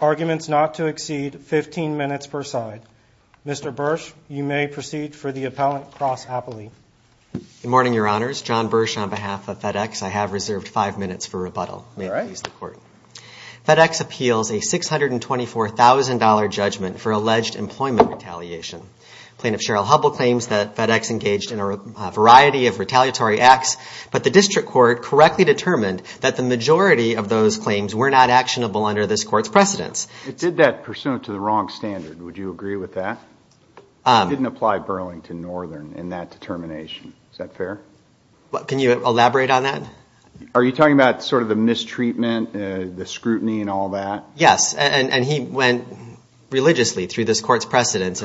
Arguments not to exceed 15 minutes per side. Mr. Bursch, you may proceed for the appellant cross-appellate. Good morning, your honors. John Bursch on behalf of FedEx. I have reserved five minutes for rebuttal. May it please the court. FedEx appeals a $624,000 judgment for alleged employment retaliation. Plaintiff Cheryl Hubbell claims that FedEx engaged in a variety of retaliatory acts, but the district court correctly determined that the majority of those claims were not actionable under this court's precedence. It did that pursuant to the wrong standard. Would you agree with that? It didn't apply Burlington Northern in that determination. Is that fair? Can you elaborate on that? Are you talking about sort of the mistreatment, the scrutiny and all that? Yes, and he went religiously through this court's precedence.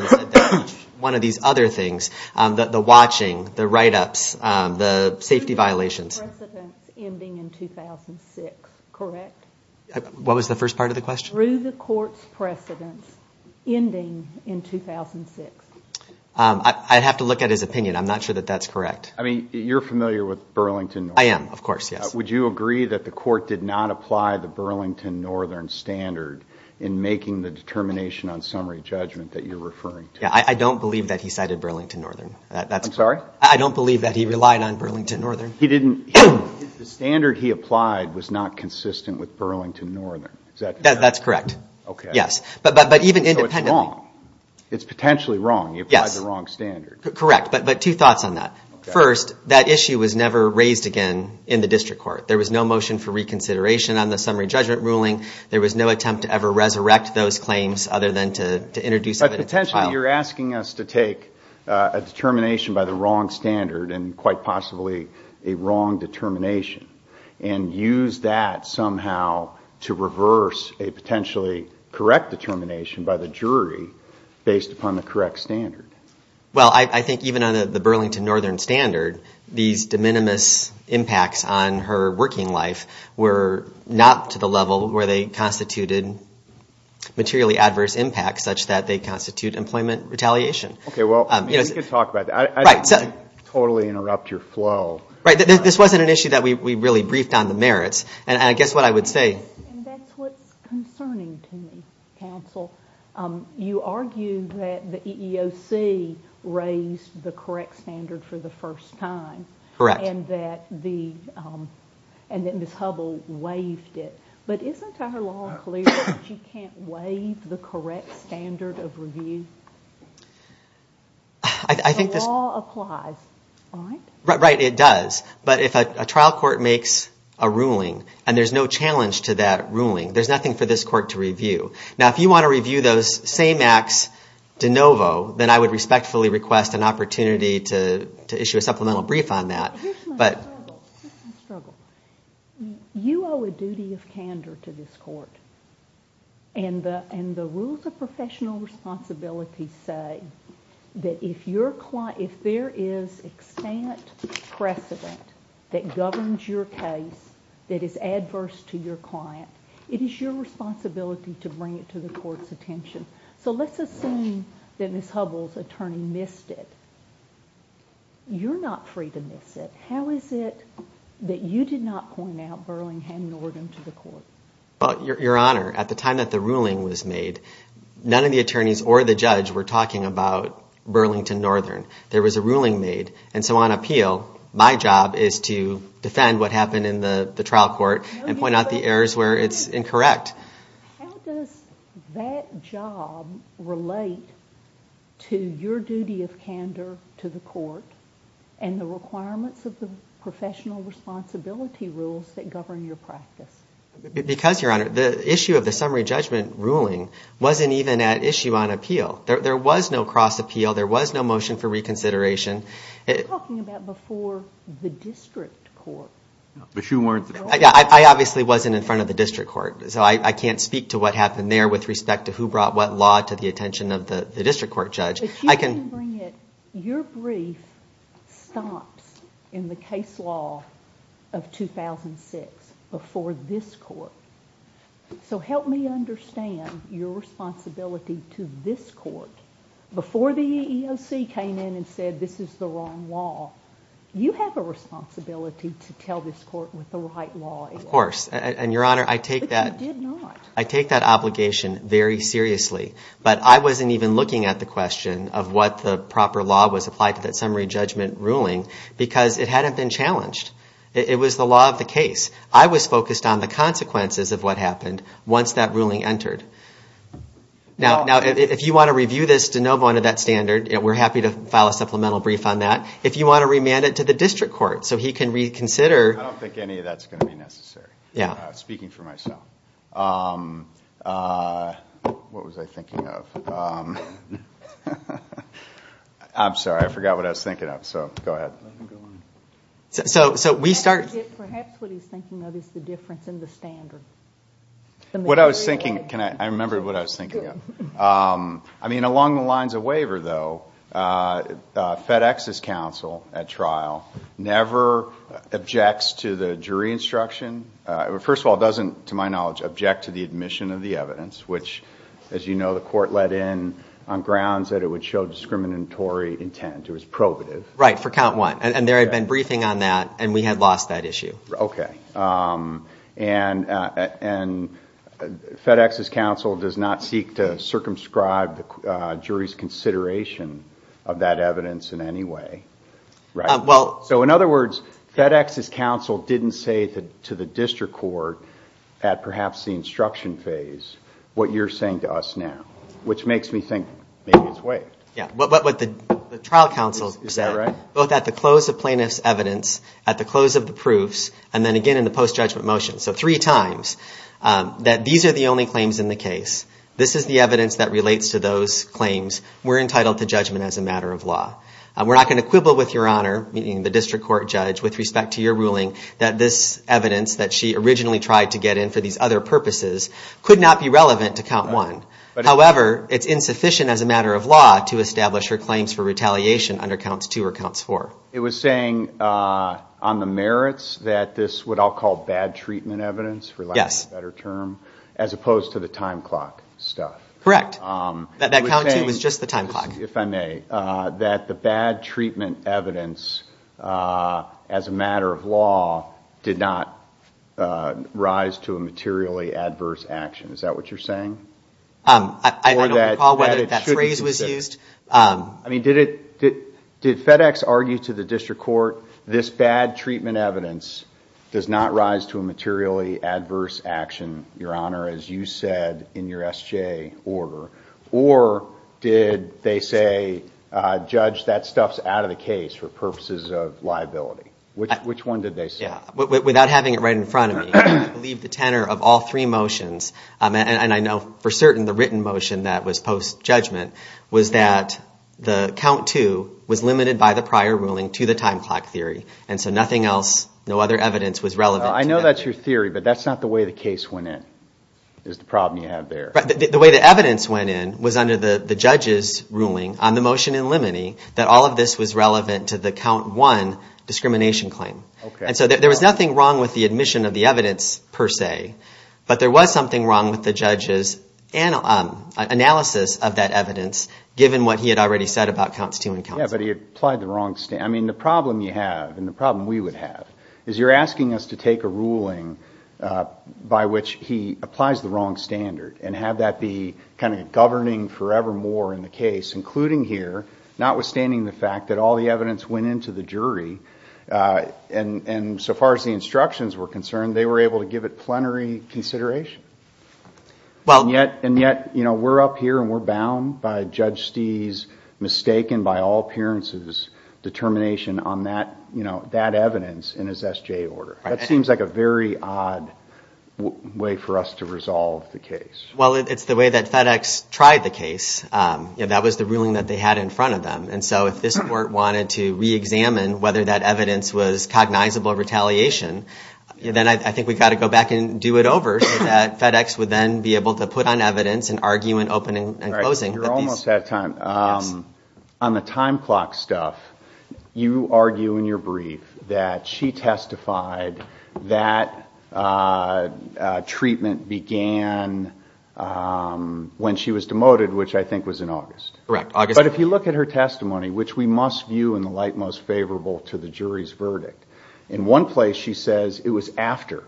One of these other things, the watching, the write-ups, the safety violations. Through the court's precedence ending in 2006, correct? What was the first part of the question? Through the court's precedence ending in 2006. I'd have to look at his opinion. I'm not sure that that's correct. I mean, you're familiar with Burlington Northern. I am, of course, yes. Would you agree that the court did not apply the Burlington Northern standard in making the determination on summary judgment that you're referring to? Yeah, I don't believe that he cited Burlington Northern. I'm sorry? I don't believe that he relied on Burlington Northern. The standard he applied was not consistent with Burlington Northern. Is that correct? That's correct, yes. Okay. So it's wrong. It's potentially wrong. He applied the wrong standard. Correct, but two thoughts on that. First, that issue was never raised again in the district court. There was no motion for reconsideration on the summary judgment ruling. There was no attempt to ever resurrect those claims other than to introduce evidence at trial. But potentially you're asking us to take a determination by the wrong standard and quite possibly a wrong determination and use that somehow to reverse a potentially correct determination by the jury based upon the correct standard. Well, I think even on the Burlington Northern standard, these de minimis impacts on her working life were not to the level where they constituted materially adverse impacts such that they constitute employment retaliation. Okay, well, we could talk about that. Right. I don't want to totally interrupt your flow. Right. This wasn't an issue that we really briefed on the merits. And I guess what I would say. And that's what's concerning to me, counsel. You argue that the EEOC raised the correct standard for the first time. Correct. And that Ms. Hubble waived it. But isn't her law clear that she can't waive the correct standard of review? I think this. The law applies, right? Right, it does. But if a trial court makes a ruling and there's no challenge to that ruling, there's nothing for this court to review. Now, if you want to review those same acts de novo, then I would respectfully request an opportunity to issue a supplemental brief on that. Here's my struggle. You owe a duty of candor to this court. And the rules of professional responsibility say that if there is extant precedent that governs your case that is adverse to your client, it is your responsibility to bring it to the court's attention. So let's assume that Ms. Hubble's attorney missed it. You're not free to miss it. How is it that you did not point out Burlington Northern to the court? Your Honor, at the time that the ruling was made, none of the attorneys or the judge were talking about Burlington Northern. There was a ruling made. And so on appeal, my job is to defend what happened in the trial court and point out the errors where it's incorrect. How does that job relate to your duty of candor to the court and the requirements of the professional responsibility rules that govern your practice? Because, Your Honor, the issue of the summary judgment ruling wasn't even at issue on appeal. There was no cross appeal. There was no motion for reconsideration. You're talking about before the district court. I obviously wasn't in front of the district court. So I can't speak to what happened there with respect to who brought what law to the attention of the district court judge. If you can bring it, your brief stops in the case law of 2006 before this court. So help me understand your responsibility to this court. Before the EEOC came in and said this is the wrong law, you have a responsibility to tell this court what the right law is. Of course. And, Your Honor, I take that obligation very seriously. But I wasn't even looking at the question of what the proper law was applied to that summary judgment ruling because it hadn't been challenged. It was the law of the case. I was focused on the consequences of what happened once that ruling entered. Now, if you want to review this to no bone of that standard, we're happy to file a supplemental brief on that. If you want to remand it to the district court so he can reconsider. I don't think any of that's going to be necessary. Speaking for myself. What was I thinking of? I'm sorry. I forgot what I was thinking of. So go ahead. So we start. Perhaps what he's thinking of is the difference in the standard. What I was thinking, I remember what I was thinking of. I mean, along the lines of waiver, though, FedEx's counsel at trial never objects to the jury instruction. First of all, it doesn't, to my knowledge, object to the admission of the evidence, which, as you know, the court let in on grounds that it would show discriminatory intent. It was probative. Right, for count one. And there had been briefing on that, and we had lost that issue. Okay. And FedEx's counsel does not seek to circumscribe the jury's consideration of that evidence in any way. So, in other words, FedEx's counsel didn't say to the district court, at perhaps the instruction phase, what you're saying to us now, which makes me think maybe it's waived. Yeah, what the trial counsel said, both at the close of plaintiff's evidence, at the close of the proofs, and then again in the post-judgment motion, so three times, that these are the only claims in the case. This is the evidence that relates to those claims. We're entitled to judgment as a matter of law. We're not going to quibble with Your Honor, meaning the district court judge, with respect to your ruling, that this evidence that she originally tried to get in for these other purposes could not be relevant to count one. However, it's insufficient as a matter of law to establish her claims for retaliation under counts two or counts four. It was saying on the merits that this what I'll call bad treatment evidence, for lack of a better term, as opposed to the time clock stuff. Correct. That count two was just the time clock. If I may, that the bad treatment evidence, as a matter of law, did not rise to a materially adverse action. Is that what you're saying? I don't recall whether that phrase was used. I mean, did FedEx argue to the district court, this bad treatment evidence does not rise to a materially adverse action, Your Honor, as you said in your SJ order? Or did they say, judge, that stuff's out of the case for purposes of liability? Which one did they say? Without having it right in front of me, I believe the tenor of all three motions, and I know for certain the written motion that was post-judgment, was that the count two was limited by the prior ruling to the time clock theory. And so nothing else, no other evidence was relevant. I know that's your theory, but that's not the way the case went in, is the problem you have there. The way the evidence went in was under the judge's ruling on the motion in limine that all of this was relevant to the count one discrimination claim. And so there was nothing wrong with the admission of the evidence, per se, but there was something wrong with the judge's analysis of that evidence, given what he had already said about counts two and counts one. Yeah, but he applied the wrong standard. I mean, the problem you have, and the problem we would have, is you're asking us to take a ruling by which he applies the wrong standard and have that be kind of governing forevermore in the case, including here, notwithstanding the fact that all the evidence went into the jury, and so far as the instructions were concerned, they were able to give it plenary consideration. And yet, we're up here and we're bound by Judge Stee's, mistaken by all appearances, determination on that evidence in his SJ order. That seems like a very odd way for us to resolve the case. Well, it's the way that FedEx tried the case. That was the ruling that they had in front of them. And so if this court wanted to reexamine whether that evidence was cognizable retaliation, then I think we've got to go back and do it over so that FedEx would then be able to put on evidence and argue in opening and closing. You're almost out of time. On the time clock stuff, you argue in your brief that she testified that treatment began when she was demoted, which I think was in August. Correct, August. But if you look at her testimony, which we must view in the light most favorable to the jury's verdict, in one place she says it was after,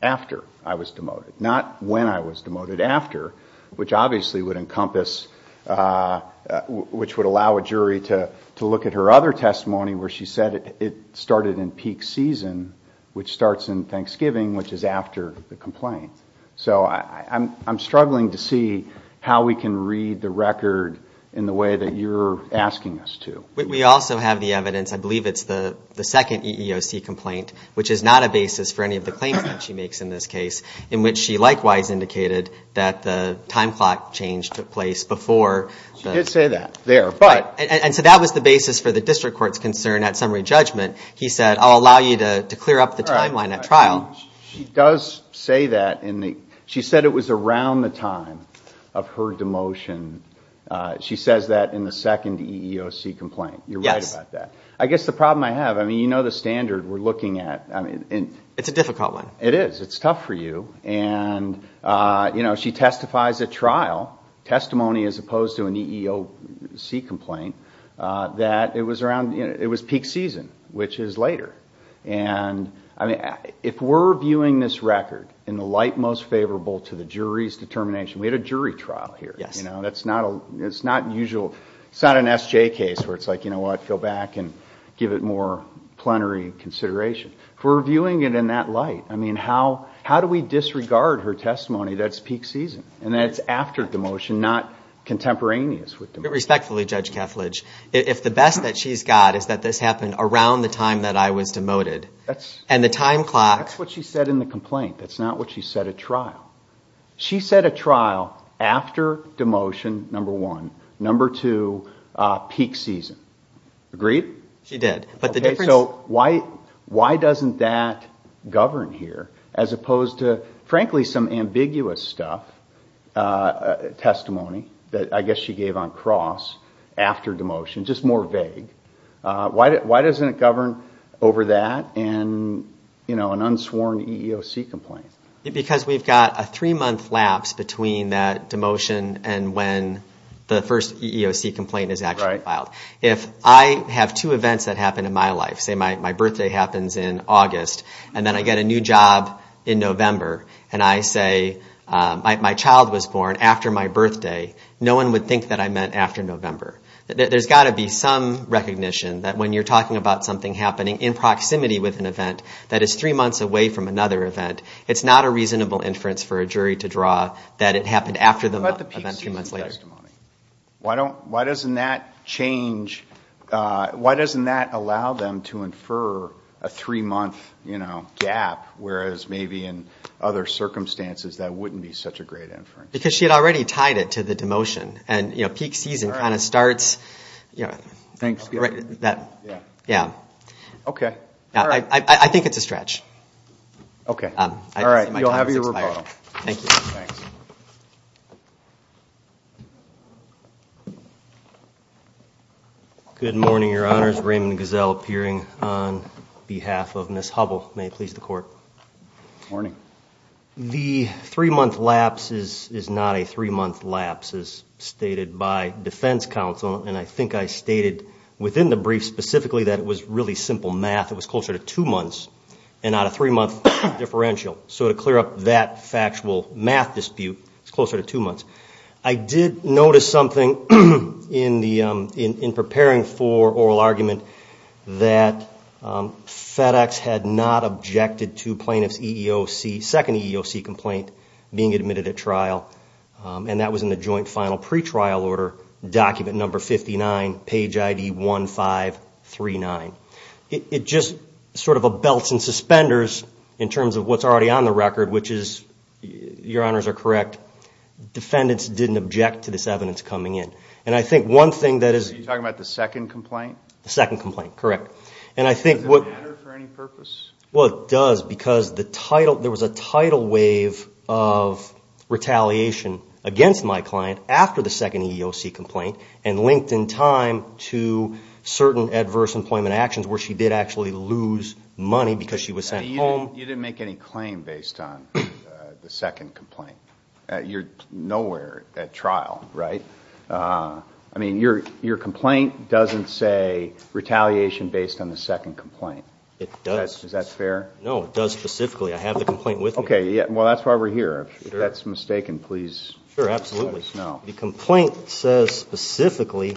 after I was demoted, not when I was demoted, after, which obviously would encompass, which would allow a jury to look at her other testimony where she said it started in peak season, which starts in Thanksgiving, which is after the complaint. So I'm struggling to see how we can read the record in the way that you're asking us to. We also have the evidence, I believe it's the second EEOC complaint, which is not a basis for any of the claims that she makes in this case, in which she likewise indicated that the time clock change took place before. She did say that there. And so that was the basis for the district court's concern at summary judgment. He said, I'll allow you to clear up the timeline at trial. She does say that. She said it was around the time of her demotion. She says that in the second EEOC complaint. You're right about that. I guess the problem I have, you know the standard we're looking at. It's a difficult one. It is. It's tough for you. She testifies at trial, testimony as opposed to an EEOC complaint, that it was peak season, which is later. And if we're viewing this record in the light most favorable to the jury's determination, we had a jury trial here. It's not an SJ case where it's like, you know what, go back and give it more plenary consideration. If we're viewing it in that light, I mean, how do we disregard her testimony that it's peak season, and that it's after demotion, not contemporaneous with demotion? Respectfully, Judge Kethledge, if the best that she's got is that this happened around the time that I was demoted, and the time clock. That's what she said in the complaint. That's not what she said at trial. She said at trial, after demotion, number one. Number two, peak season. Agreed? She did. So why doesn't that govern here as opposed to, frankly, some ambiguous stuff, testimony, that I guess she gave on cross after demotion, just more vague. Why doesn't it govern over that and an unsworn EEOC complaint? Because we've got a three-month lapse between that demotion and when the first EEOC complaint is actually filed. If I have two events that happen in my life, say my birthday happens in August, and then I get a new job in November, and I say my child was born after my birthday, no one would think that I meant after November. There's got to be some recognition that when you're talking about something happening in proximity with an event that is three months away from another event, it's not a reasonable inference for a jury to draw that it happened after the event two months later. Why doesn't that allow them to infer a three-month gap, whereas maybe in other circumstances that wouldn't be such a great inference? Because she had already tied it to the demotion. And peak season kind of starts that way. I think it's a stretch. Okay. All right. You'll have your rebuttal. Thank you. Thanks. Good morning, Your Honors. Raymond Gazelle appearing on behalf of Ms. Hubble. May it please the Court. Good morning. The three-month lapse is not a three-month lapse, as stated by defense counsel, and I think I stated within the brief specifically that it was really simple math. It was closer to two months and not a three-month differential. So to clear up that factual math dispute, it's closer to two months. I did notice something in preparing for oral argument that FedEx had not objected to plaintiff's EEOC, second EEOC complaint being admitted at trial, and that was in the joint final pretrial order, document number 59, page ID 1539. It just sort of belts and suspenders in terms of what's already on the record, which is, Your Honors are correct, defendants didn't object to this evidence coming in. And I think one thing that is... Are you talking about the second complaint? The second complaint, correct. Does it matter for any purpose? Well, it does because there was a tidal wave of retaliation against my client after the second EEOC complaint and linked in time to certain adverse employment actions where she did actually lose money because she was sent home. You didn't make any claim based on the second complaint. You're nowhere at trial, right? I mean, your complaint doesn't say retaliation based on the second complaint. It does. Is that fair? No, it does specifically. I have the complaint with me. Okay, well, that's why we're here. If that's mistaken, please let us know. Sure, absolutely. The complaint says specifically,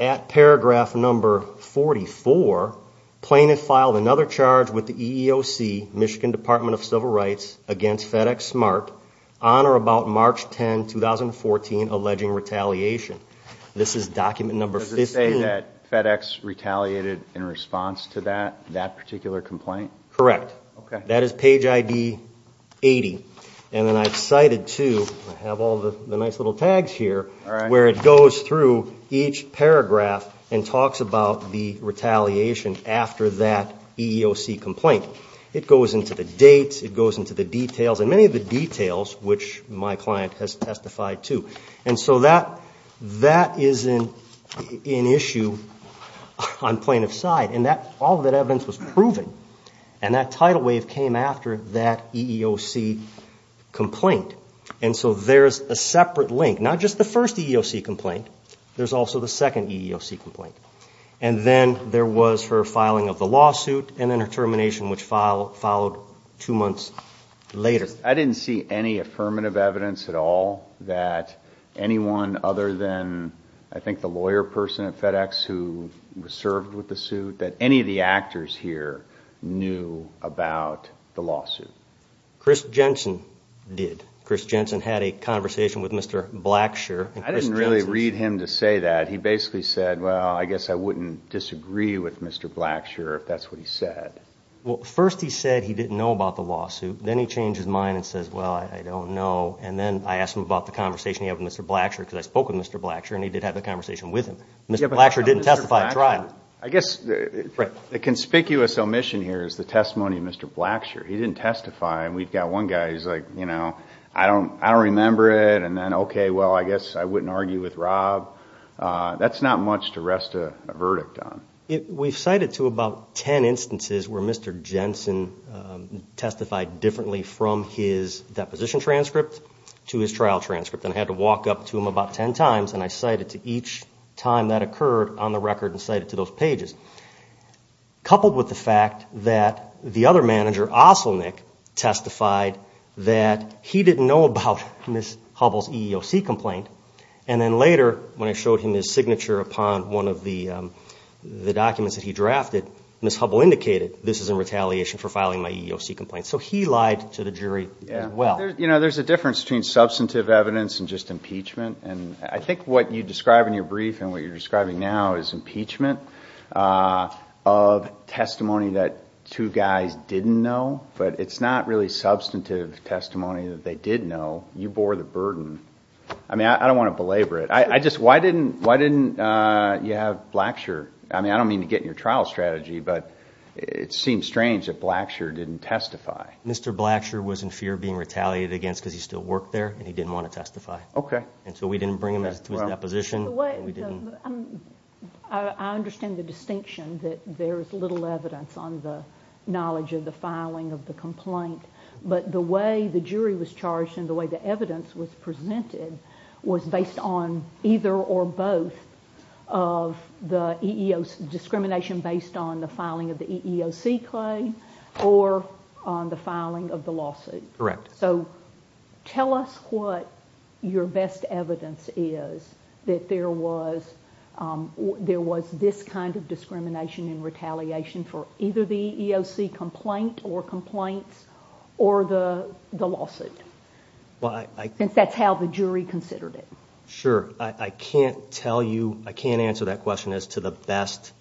at paragraph number 44, Plaintiff filed another charge with the EEOC, Michigan Department of Civil Rights, against FedExSmart on or about March 10, 2014, alleging retaliation. This is document number 15. Does it say that FedEx retaliated in response to that particular complaint? Correct. That is page ID 80. And then I've cited, too, I have all the nice little tags here, where it goes through each paragraph and talks about the retaliation after that EEOC complaint. It goes into the dates, it goes into the details, and many of the details, which my client has testified to. And so that is an issue on Plaintiff's side. And all of that evidence was proven. And that tidal wave came after that EEOC complaint. And so there's a separate link. Not just the first EEOC complaint, there's also the second EEOC complaint. And then there was her filing of the lawsuit and then her termination, which followed two months later. I didn't see any affirmative evidence at all that anyone other than, I think, the lawyer person at FedEx who was served with the suit, that any of the actors here knew about the lawsuit. Chris Jensen did. Chris Jensen had a conversation with Mr. Blackshur. I didn't really read him to say that. He basically said, well, I guess I wouldn't disagree with Mr. Blackshur if that's what he said. Well, first he said he didn't know about the lawsuit. Then he changed his mind and says, well, I don't know. And then I asked him about the conversation he had with Mr. Blackshur because I spoke with Mr. Blackshur and he did have the conversation with him. Mr. Blackshur didn't testify at trial. I guess the conspicuous omission here is the testimony of Mr. Blackshur. He didn't testify. And we've got one guy who's like, you know, I don't remember it. And then, okay, well, I guess I wouldn't argue with Rob. That's not much to rest a verdict on. We've cited to about ten instances where Mr. Jensen testified differently from his deposition transcript to his trial transcript. And I had to walk up to him about ten times and I cited to each time that occurred on the record and cited to those pages. Coupled with the fact that the other manager, Oselnick, testified that he didn't know about Ms. Hubble's EEOC complaint. And then later, when I showed him his signature upon one of the documents that he drafted, Ms. Hubble indicated this is in retaliation for filing my EEOC complaint. So he lied to the jury as well. You know, there's a difference between substantive evidence and just impeachment. And I think what you describe in your brief and what you're describing now is impeachment of testimony that two guys didn't know. But it's not really substantive testimony that they did know. You bore the burden. I mean, I don't want to belabor it. I just, why didn't you have Blackshur? I mean, I don't mean to get in your trial strategy, but it seems strange that Blackshur didn't testify. Mr. Blackshur was in fear of being retaliated against because he still worked there and he didn't want to testify. Okay. And so we didn't bring him to his deposition. I understand the distinction that there's little evidence on the knowledge of the filing of the complaint. But the way the jury was charged and the way the evidence was presented was based on either or both of the EEOC discrimination based on the filing of the EEOC claim or on the filing of the lawsuit. Correct. So tell us what your best evidence is that there was this kind of discrimination and retaliation for either the EEOC complaint or complaints or the lawsuit. Since that's how the jury considered it. Sure. I can't tell you, I can't answer that question as to the best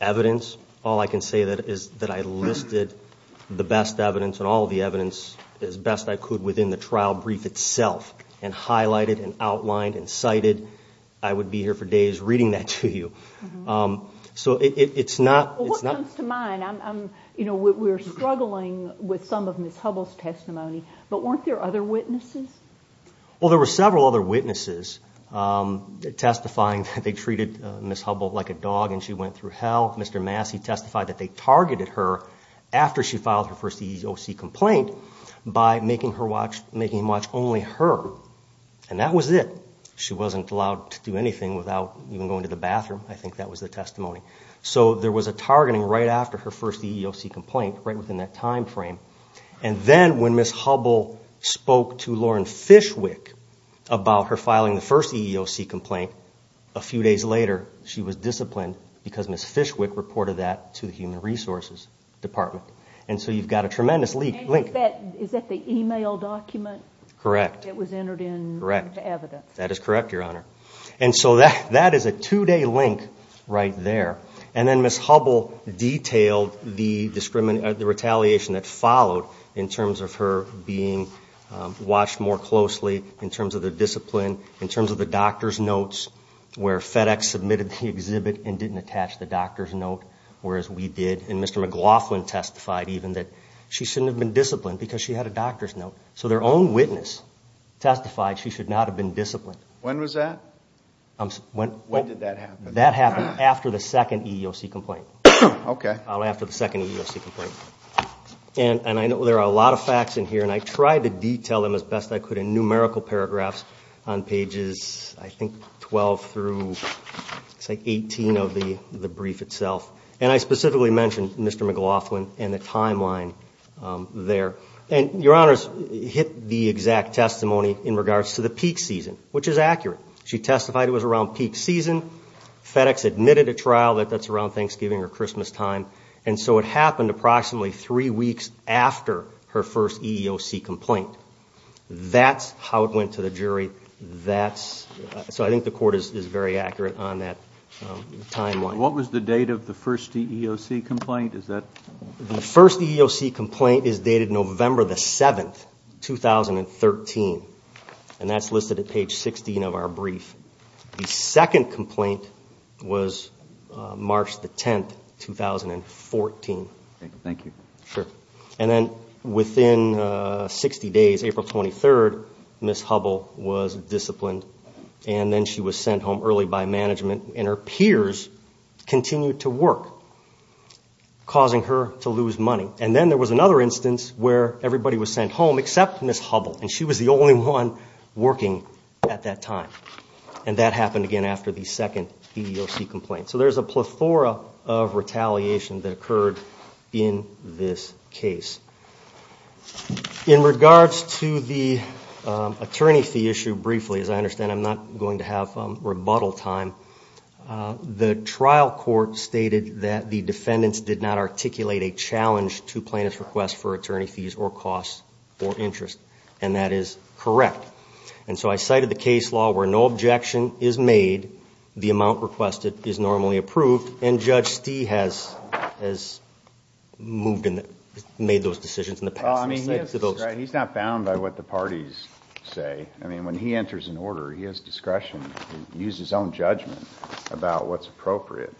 evidence. All I can say is that I listed the best evidence and all the evidence as best I could within the trial brief itself and highlighted and outlined and cited. I would be here for days reading that to you. So it's not. What comes to mind, you know, we're struggling with some of Ms. Hubble's testimony, but weren't there other witnesses? Well, there were several other witnesses testifying that they treated Ms. Hubble like a dog and she went through hell. Mr. Massey testified that they targeted her after she filed her first EEOC complaint by making him watch only her. And that was it. She wasn't allowed to do anything without even going to the bathroom. I think that was the testimony. So there was a targeting right after her first EEOC complaint, right within that time frame. And then when Ms. Hubble spoke to Lauren Fishwick about her filing the first EEOC complaint, a few days later she was disciplined because Ms. Fishwick reported that to the Human Resources Department. And so you've got a tremendous link. Is that the email document? Correct. That was entered in the evidence? Correct. That is correct, Your Honor. And so that is a two-day link right there. And then Ms. Hubble detailed the retaliation that followed in terms of her being watched more closely in terms of the discipline, in terms of the doctor's notes where FedEx submitted the exhibit and didn't attach the doctor's note, whereas we did. And Mr. McLaughlin testified even that she shouldn't have been disciplined because she had a doctor's note. So their own witness testified she should not have been disciplined. When was that? When did that happen? That happened after the second EEOC complaint. Okay. After the second EEOC complaint. And I know there are a lot of facts in here, and I tried to detail them as best I could in numerical paragraphs on pages, I think, 12 through 18 of the brief itself. And I specifically mentioned Mr. McLaughlin and the timeline there. And Your Honors hit the exact testimony in regards to the peak season, which is accurate. She testified it was around peak season. FedEx admitted at trial that that's around Thanksgiving or Christmastime. And so it happened approximately three weeks after her first EEOC complaint. That's how it went to the jury. So I think the court is very accurate on that timeline. What was the date of the first EEOC complaint? The first EEOC complaint is dated November 7, 2013. And that's listed at page 16 of our brief. The second complaint was March 10, 2014. Thank you. Sure. And then within 60 days, April 23, Ms. Hubbell was disciplined, and then she was sent home early by management. And her peers continued to work, causing her to lose money. And then there was another instance where everybody was sent home except Ms. Hubbell, and she was the only one working at that time. And that happened again after the second EEOC complaint. So there's a plethora of retaliation that occurred in this case. In regards to the attorney fee issue briefly, as I understand I'm not going to have rebuttal time, the trial court stated that the defendants did not articulate a challenge to plaintiff's request for attorney fees or costs or interest. And that is correct. And so I cited the case law where no objection is made, the amount requested is normally approved, and Judge Stee has made those decisions in the past. He's not bound by what the parties say. I mean, when he enters an order, he has discretion to use his own judgment about what's appropriate.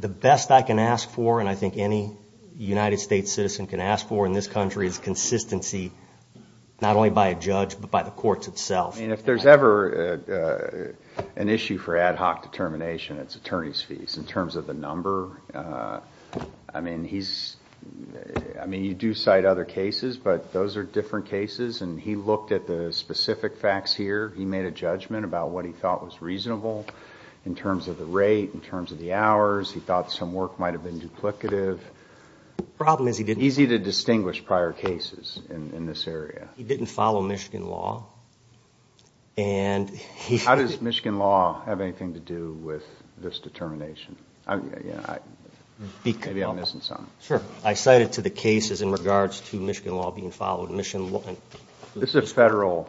The best I can ask for, and I think any United States citizen can ask for in this country, is consistency not only by a judge but by the courts itself. I mean, if there's ever an issue for ad hoc determination, it's attorney's fees. In terms of the number, I mean, you do cite other cases, but those are different cases. And he looked at the specific facts here. He made a judgment about what he thought was reasonable in terms of the rate, in terms of the hours. He thought some work might have been duplicative. The problem is he didn't. Easy to distinguish prior cases in this area. He didn't follow Michigan law. How does Michigan law have anything to do with this determination? Maybe I'm missing something. Sure. I cited to the cases in regards to Michigan law being followed. This is a federal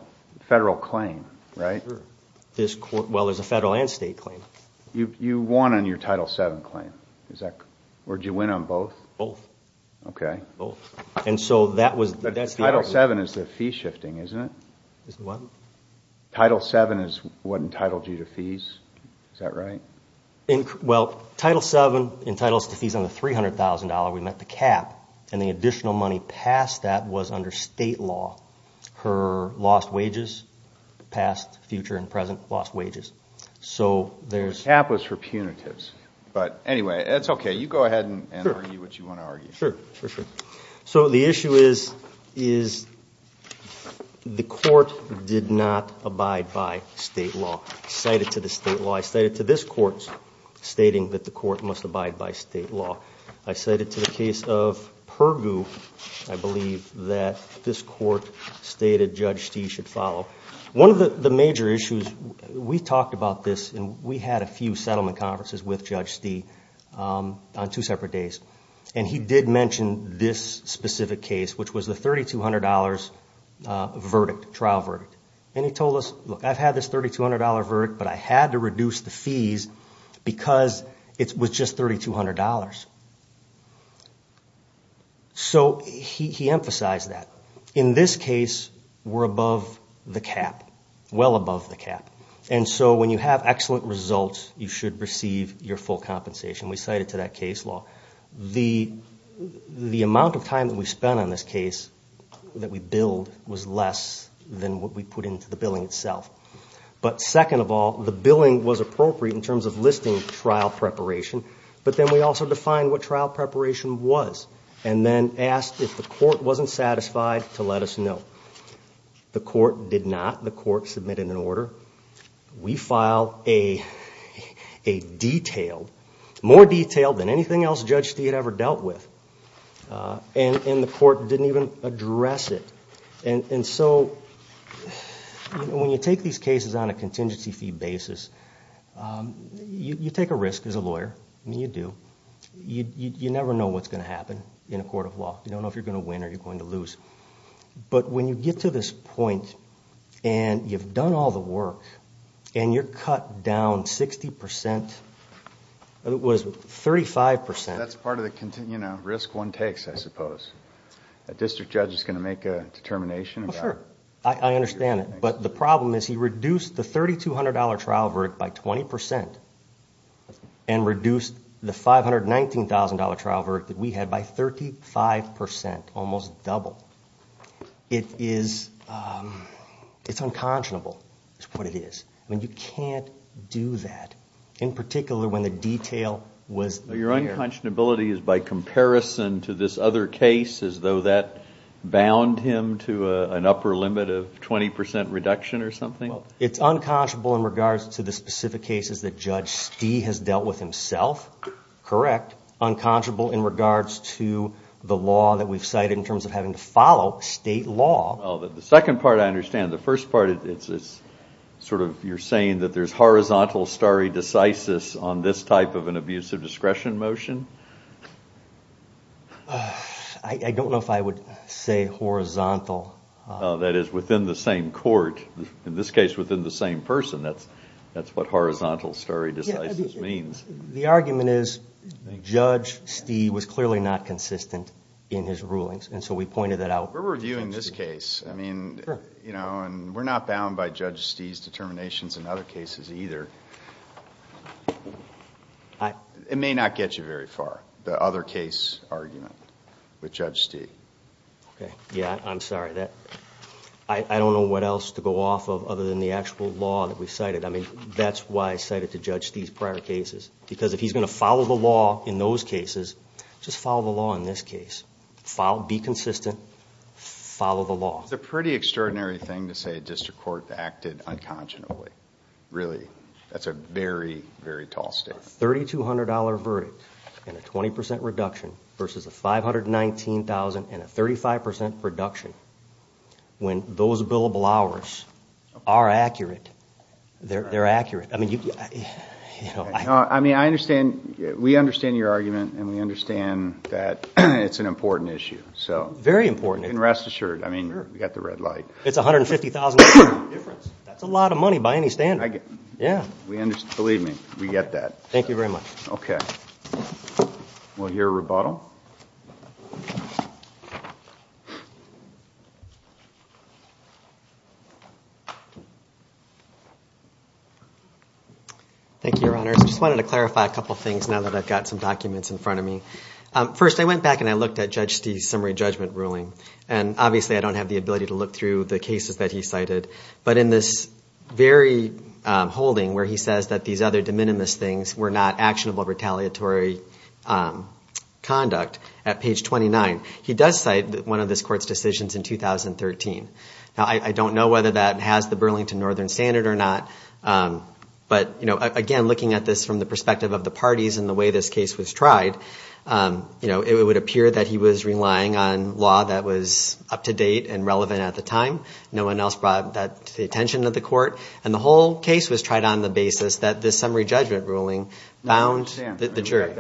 claim, right? Sure. Well, it's a federal and state claim. You won on your Title VII claim. Or did you win on both? Both. Okay. Both. Title VII is the fee shifting, isn't it? What? Title VII is what entitled you to fees. Is that right? Well, Title VII entitles to fees under $300,000. We met the cap. And the additional money past that was under state law. Her lost wages, past, future, and present lost wages. The cap was for punitives. But anyway, that's okay. You go ahead and argue what you want to argue. Sure. For sure. So the issue is the court did not abide by state law. Cited to the state law. I cited to this court stating that the court must abide by state law. I cited to the case of Pergoo, I believe, that this court stated Judge Stee should follow. One of the major issues, we talked about this, and we had a few settlement conferences with Judge Stee on two separate days. And he did mention this specific case, which was the $3,200 verdict, trial verdict. And he told us, look, I've had this $3,200 verdict, but I had to reduce the fees because it was just $3,200. So he emphasized that. In this case, we're above the cap. Well above the cap. And so when you have excellent results, you should receive your full compensation. We cited to that case law. The amount of time that we spent on this case that we billed was less than what we put into the billing itself. But second of all, the billing was appropriate in terms of listing trial preparation. But then we also defined what trial preparation was and then asked if the court wasn't satisfied to let us know. The court did not. The court submitted an order. We filed a detailed, more detailed than anything else Judge Stee had ever dealt with. And the court didn't even address it. And so when you take these cases on a contingency fee basis, you take a risk as a lawyer. I mean, you do. You never know what's going to happen in a court of law. You don't know if you're going to win or you're going to lose. But when you get to this point and you've done all the work and you're cut down 60% It was 35%. That's part of the risk one takes, I suppose. A district judge is going to make a determination. Sure. I understand it. But the problem is he reduced the $3,200 trial verdict by 20% and reduced the $519,000 trial verdict that we had by 35%. Almost double. It's unconscionable is what it is. I mean, you can't do that. In particular when the detail was there. Your unconscionability is by comparison to this other case as though that bound him to an upper limit of 20% reduction or something? It's unconscionable in regards to the specific cases that Judge Stee has dealt with himself. Correct. Unconscionable in regards to the law that we've cited in terms of having to follow state law. The second part I understand. The first part, you're saying that there's horizontal stare decisis on this type of an abusive discretion motion? I don't know if I would say horizontal. That is within the same court. In this case within the same person. That's what horizontal stare decisis means. The argument is Judge Stee was clearly not consistent in his rulings and so we pointed that out. We're reviewing this case. I mean, we're not bound by Judge Stee's determinations in other cases either. It may not get you very far, the other case argument with Judge Stee. Okay. Yeah, I'm sorry. I don't know what else to go off of other than the actual law that we've cited. I mean, that's why I cited to Judge Stee's prior cases. Because if he's going to follow the law in those cases, just follow the law in this case. Be consistent. Follow the law. It's a pretty extraordinary thing to say a district court acted unconscionably. Really, that's a very, very tall statement. A $3,200 verdict and a 20% reduction versus a $519,000 and a 35% reduction. When those billable hours are accurate, they're accurate. I mean, I understand, we understand your argument and we understand that it's an important issue. Very important. And rest assured, I mean, we've got the red light. It's $150,000 difference. That's a lot of money by any standard. Yeah. Believe me, we get that. Thank you very much. Okay. We'll hear a rebuttal. Thank you, Your Honors. I just wanted to clarify a couple things now that I've got some documents in front of me. First, I went back and I looked at Judge Stee's summary judgment ruling. And obviously, I don't have the ability to look through the cases that he cited. But in this very holding where he says that these other de minimis things were not actionable retaliatory conduct at page 29, he does cite one of this court's decisions in 2013. Now, I don't know whether that has the Burlington Northern standard or not. But again, looking at this from the perspective of the parties and the way this case was tried, it would appear that he was relying on law that was up to date and relevant at the time. No one else brought that to the attention of the court. And the whole case was tried on the basis that this summary judgment ruling bound the jury.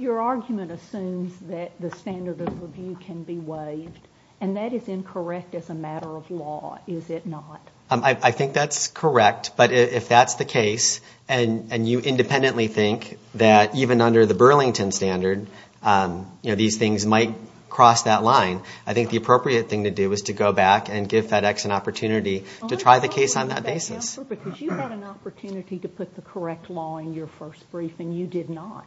Your argument assumes that the standard of review can be waived. And that is incorrect as a matter of law, is it not? I think that's correct. But if that's the case and you independently think that even under the Burlington standard, you know, these things might cross that line, I think the appropriate thing to do is to go back and give FedEx an opportunity to try the case on that basis. Because you had an opportunity to put the correct law in your first brief and you did not.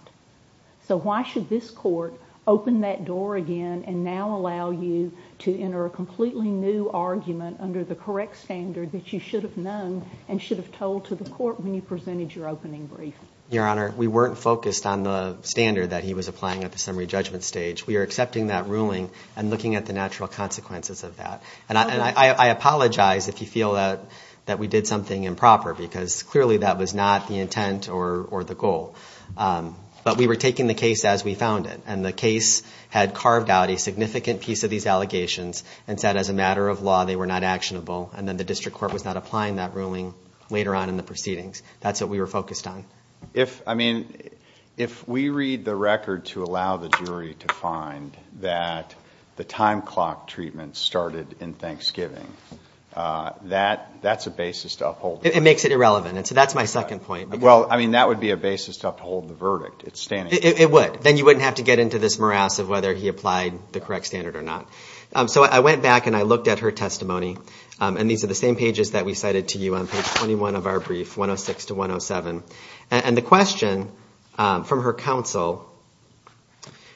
So why should this court open that door again and now allow you to enter a completely new argument under the correct standard that you should have known and should have told to the court when you presented your opening brief? Your Honor, we weren't focused on the standard that he was applying at the summary judgment stage. We were accepting that ruling and looking at the natural consequences of that. And I apologize if you feel that we did something improper, because clearly that was not the intent or the goal. But we were taking the case as we found it. And the case had carved out a significant piece of these allegations and said as a matter of law they were not actionable. And then the district court was not applying that ruling later on in the proceedings. That's what we were focused on. If we read the record to allow the jury to find that the time clock treatment started in Thanksgiving, that's a basis to uphold. It makes it irrelevant. So that's my second point. Well, I mean, that would be a basis to uphold the verdict. It would. Then you wouldn't have to get into this morass of whether he applied the correct standard or not. So I went back and I looked at her testimony. And these are the same pages that we cited to you on page 21 of our brief, 106 to 107. And the question from her counsel,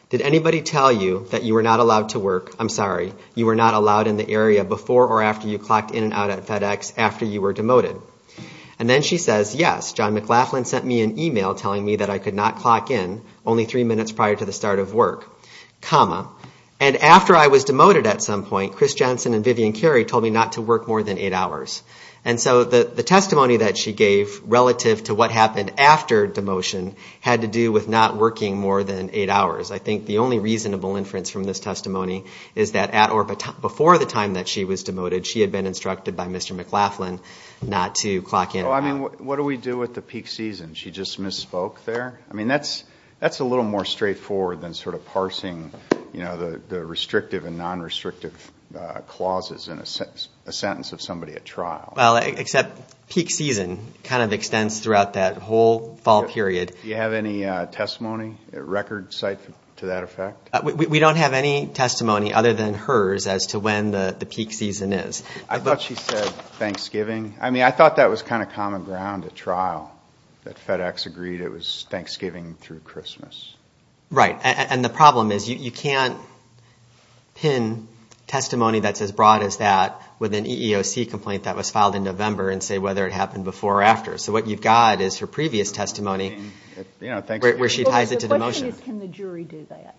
did anybody tell you that you were not allowed to work, I'm sorry, you were not allowed in the area before or after you clocked in and out at FedEx after you were demoted? And then she says, yes, John McLaughlin sent me an e-mail telling me that I could not clock in, only three minutes prior to the start of work, comma. And after I was demoted at some point, Chris Jensen and Vivian Carey told me not to work more than eight hours. And so the testimony that she gave relative to what happened after demotion had to do with not working more than eight hours. I think the only reasonable inference from this testimony is that at or before the time that she was demoted, she had been instructed by Mr. McLaughlin not to clock in and out. Well, I mean, what do we do with the peak season? She just misspoke there? I mean, that's a little more straightforward than sort of parsing, you know, the restrictive and non-restrictive clauses in a sentence of somebody at trial. Well, except peak season kind of extends throughout that whole fall period. Do you have any testimony at record site to that effect? We don't have any testimony other than hers as to when the peak season is. I thought she said Thanksgiving. I mean, I thought that was kind of common ground at trial, that FedEx agreed it was Thanksgiving through Christmas. Right, and the problem is you can't pin testimony that's as broad as that with an EEOC complaint that was filed in November and say whether it happened before or after. So what you've got is her previous testimony where she ties it to demotion. What case can the jury do that?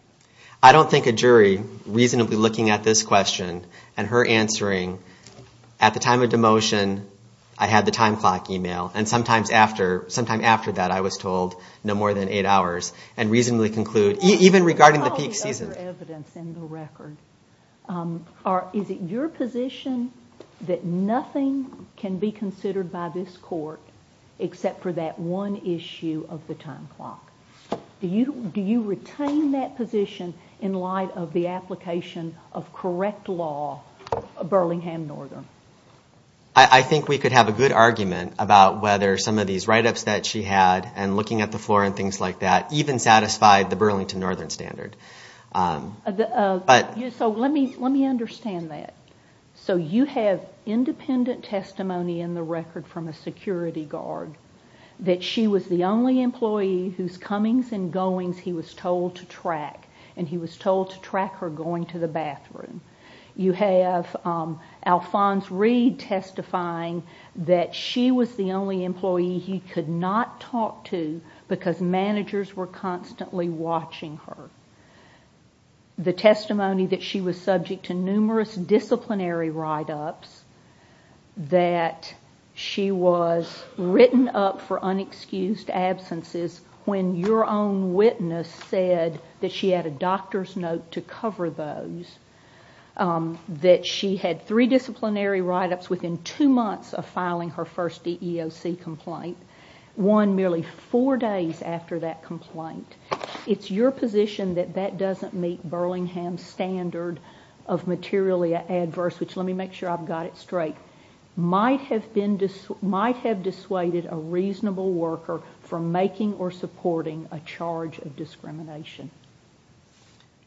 I don't think a jury reasonably looking at this question and her answering, at the time of demotion I had the time clock email, and sometime after that I was told no more than eight hours. And reasonably conclude, even regarding the peak season. What about the other evidence in the record? Is it your position that nothing can be considered by this court except for that one issue of the time clock? Do you retain that position in light of the application of correct law, Burlingham Northern? I think we could have a good argument about whether some of these write-ups that she had and looking at the floor and things like that even satisfied the Burlington Northern standard. So let me understand that. So you have independent testimony in the record from a security guard that she was the only employee whose comings and goings he was told to track, and he was told to track her going to the bathroom. You have Alphonse Reed testifying that she was the only employee he could not talk to because managers were constantly watching her. The testimony that she was subject to numerous disciplinary write-ups, that she was written up for unexcused absences when your own witness said that she had a doctor's note to cover those, that she had three disciplinary write-ups within two months of filing her first EEOC complaint, one merely four days after that complaint. It's your position that that doesn't meet Burlingham's standard of materially adverse, which let me make sure I've got it straight, might have dissuaded a reasonable worker from making or supporting a charge of discrimination.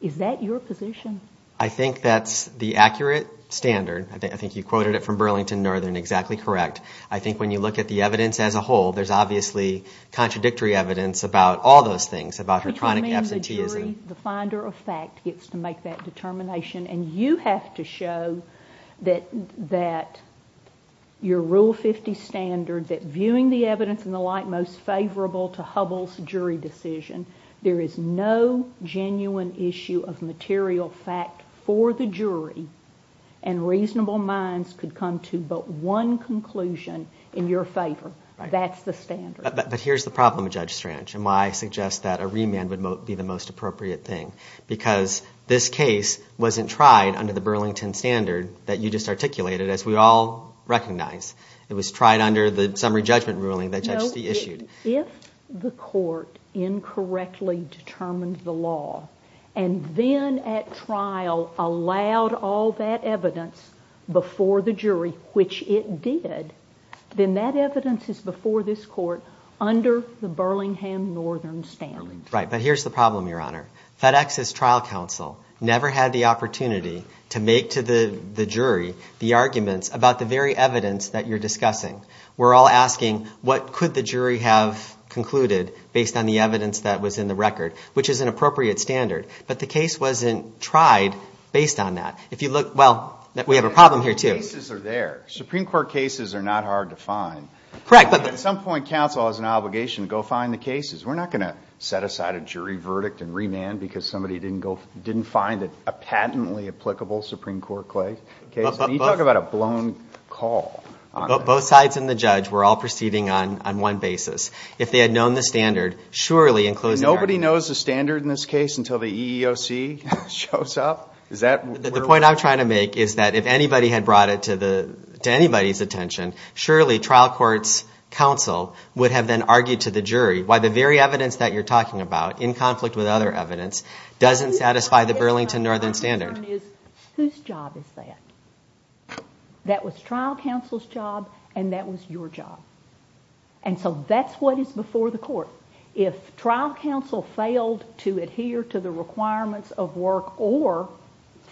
Is that your position? I think that's the accurate standard. I think you quoted it from Burlington Northern exactly correct. I think when you look at the evidence as a whole, there's obviously contradictory evidence about all those things, about her chronic absenteeism. The jury, the finder of fact, gets to make that determination, and you have to show that your Rule 50 standard, that viewing the evidence and the like most favorable to Hubble's jury decision, there is no genuine issue of material fact for the jury, and reasonable minds could come to but one conclusion in your favor. That's the standard. But here's the problem, Judge Strange, and why I suggest that a remand would be the most appropriate thing, because this case wasn't tried under the Burlington standard that you just articulated, as we all recognize. It was tried under the summary judgment ruling that Judge Stee issued. If the court incorrectly determined the law and then at trial allowed all that evidence before the jury, which it did, then that evidence is before this court under the Burlington Northern standard. Right, but here's the problem, Your Honor. FedEx's trial counsel never had the opportunity to make to the jury the arguments about the very evidence that you're discussing. We're all asking what could the jury have concluded based on the evidence that was in the record, which is an appropriate standard. But the case wasn't tried based on that. If you look, well, we have a problem here too. Cases are there. Supreme Court cases are not hard to find. Correct. But at some point counsel has an obligation to go find the cases. We're not going to set aside a jury verdict and remand because somebody didn't find a patently applicable Supreme Court case. Can you talk about a blown call on that? Both sides and the judge were all proceeding on one basis. If they had known the standard, surely and closed the argument. Nobody knows the standard in this case until the EEOC shows up? The point I'm trying to make is that if anybody had brought it to anybody's attention, surely trial court's counsel would have then argued to the jury why the very evidence that you're talking about, in conflict with other evidence, doesn't satisfy the Burlington Northern standard. Whose job is that? That was trial counsel's job and that was your job. And so that's what is before the court. If trial counsel failed to adhere to the requirements of work or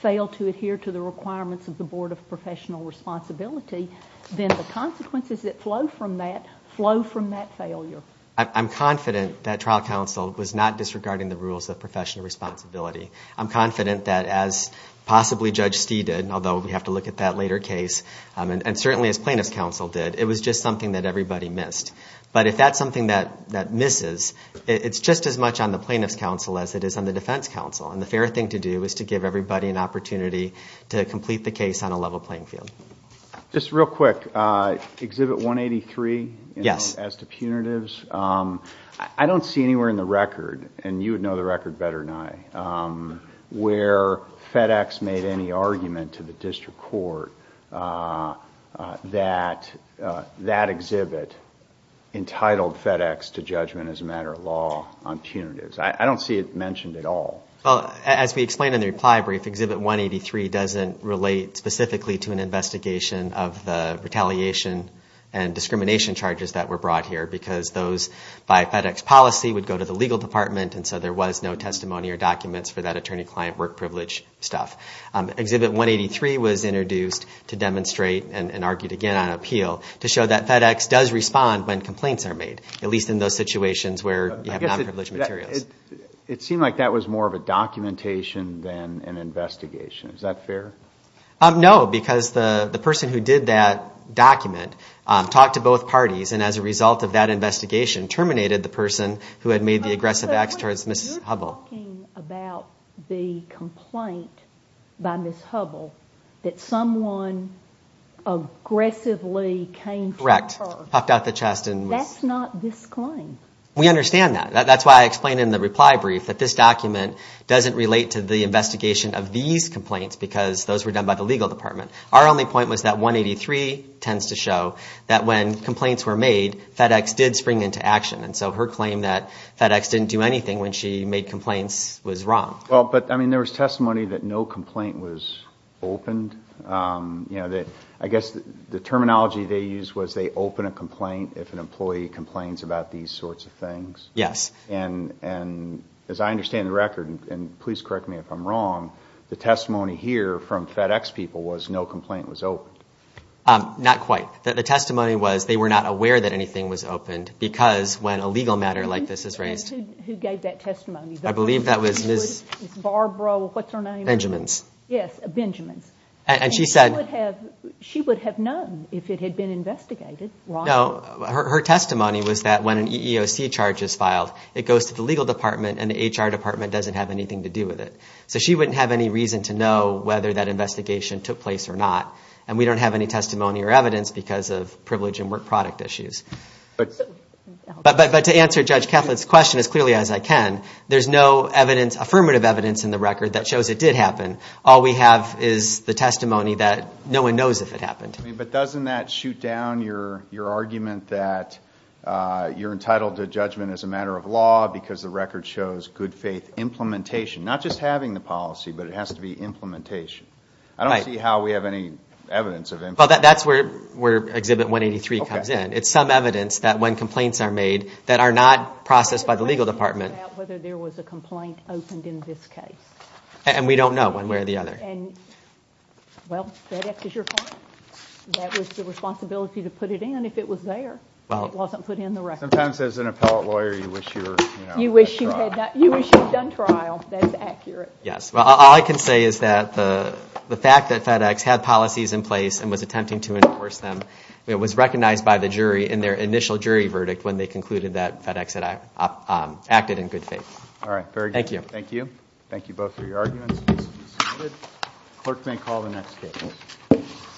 failed to adhere to the requirements of the Board of Professional Responsibility, then the consequences that flow from that flow from that failure. I'm confident that trial counsel was not disregarding the rules of professional responsibility. I'm confident that as possibly Judge Stee did, although we have to look at that later case, and certainly as plaintiff's counsel did, it was just something that everybody missed. But if that's something that misses, it's just as much on the plaintiff's counsel as it is on the defense counsel. And the fair thing to do is to give everybody an opportunity to complete the case on a level playing field. Just real quick, Exhibit 183, as to punitives, I don't see anywhere in the record, and you would know the record better than I, where FedEx made any argument to the district court that that exhibit entitled FedEx to judgment as a matter of law on punitives. I don't see it mentioned at all. Well, as we explained in the reply brief, Exhibit 183 doesn't relate specifically to an investigation of the retaliation and discrimination charges that were brought here because those by FedEx policy would go to the legal department and so there was no testimony or documents for that attorney-client work privilege stuff. Exhibit 183 was introduced to demonstrate and argued again on appeal to show that FedEx does respond when complaints are made, at least in those situations where you have non-privileged materials. It seemed like that was more of a documentation than an investigation. Is that fair? No, because the person who did that document talked to both parties and as a result of that investigation, terminated the person who had made the aggressive acts towards Mrs. Hubbell. But you're talking about the complaint by Mrs. Hubbell that someone aggressively came to her. Correct, popped out the chest and was... That's not this claim. We understand that. That's why I explained in the reply brief that this document doesn't relate to the investigation of these complaints because those were done by the legal department. Our only point was that Exhibit 183 tends to show that when complaints were made, FedEx did spring into action. So her claim that FedEx didn't do anything when she made complaints was wrong. But there was testimony that no complaint was opened. I guess the terminology they used was they open a complaint if an employee complains about these sorts of things. Yes. And as I understand the record, and please correct me if I'm wrong, the testimony here from FedEx people was no complaint was opened. Not quite. The testimony was they were not aware that anything was opened because when a legal matter like this is raised. Who gave that testimony? I believe that was Ms. Barbara, what's her name? Benjamins. Yes, Benjamins. And she said... She would have known if it had been investigated. No, her testimony was that when an EEOC charge is filed, it goes to the legal department and the HR department doesn't have anything to do with it. So she wouldn't have any reason to know whether that investigation took place or not. And we don't have any testimony or evidence because of privilege and work product issues. But to answer Judge Keflin's question as clearly as I can, there's no affirmative evidence in the record that shows it did happen. All we have is the testimony that no one knows if it happened. But doesn't that shoot down your argument that you're entitled to judgment as a matter of law because the record shows good faith implementation. Not just having the policy, but it has to be implementation. I don't see how we have any evidence of implementation. Well, that's where Exhibit 183 comes in. It's some evidence that when complaints are made that are not processed by the legal department. We don't know whether there was a complaint opened in this case. And we don't know one way or the other. And, well, FedEx is your client. That was the responsibility to put it in if it was there. It wasn't put in the record. Sometimes as an appellate lawyer you wish you had done trial. You wish you had done trial. That's accurate. Yes. Well, all I can say is that the fact that FedEx had policies in place and was attempting to enforce them was recognized by the jury in their initial jury verdict when they concluded that FedEx had acted in good faith. All right. Very good. Thank you. Thank you both for your arguments. Clerk may call the next case.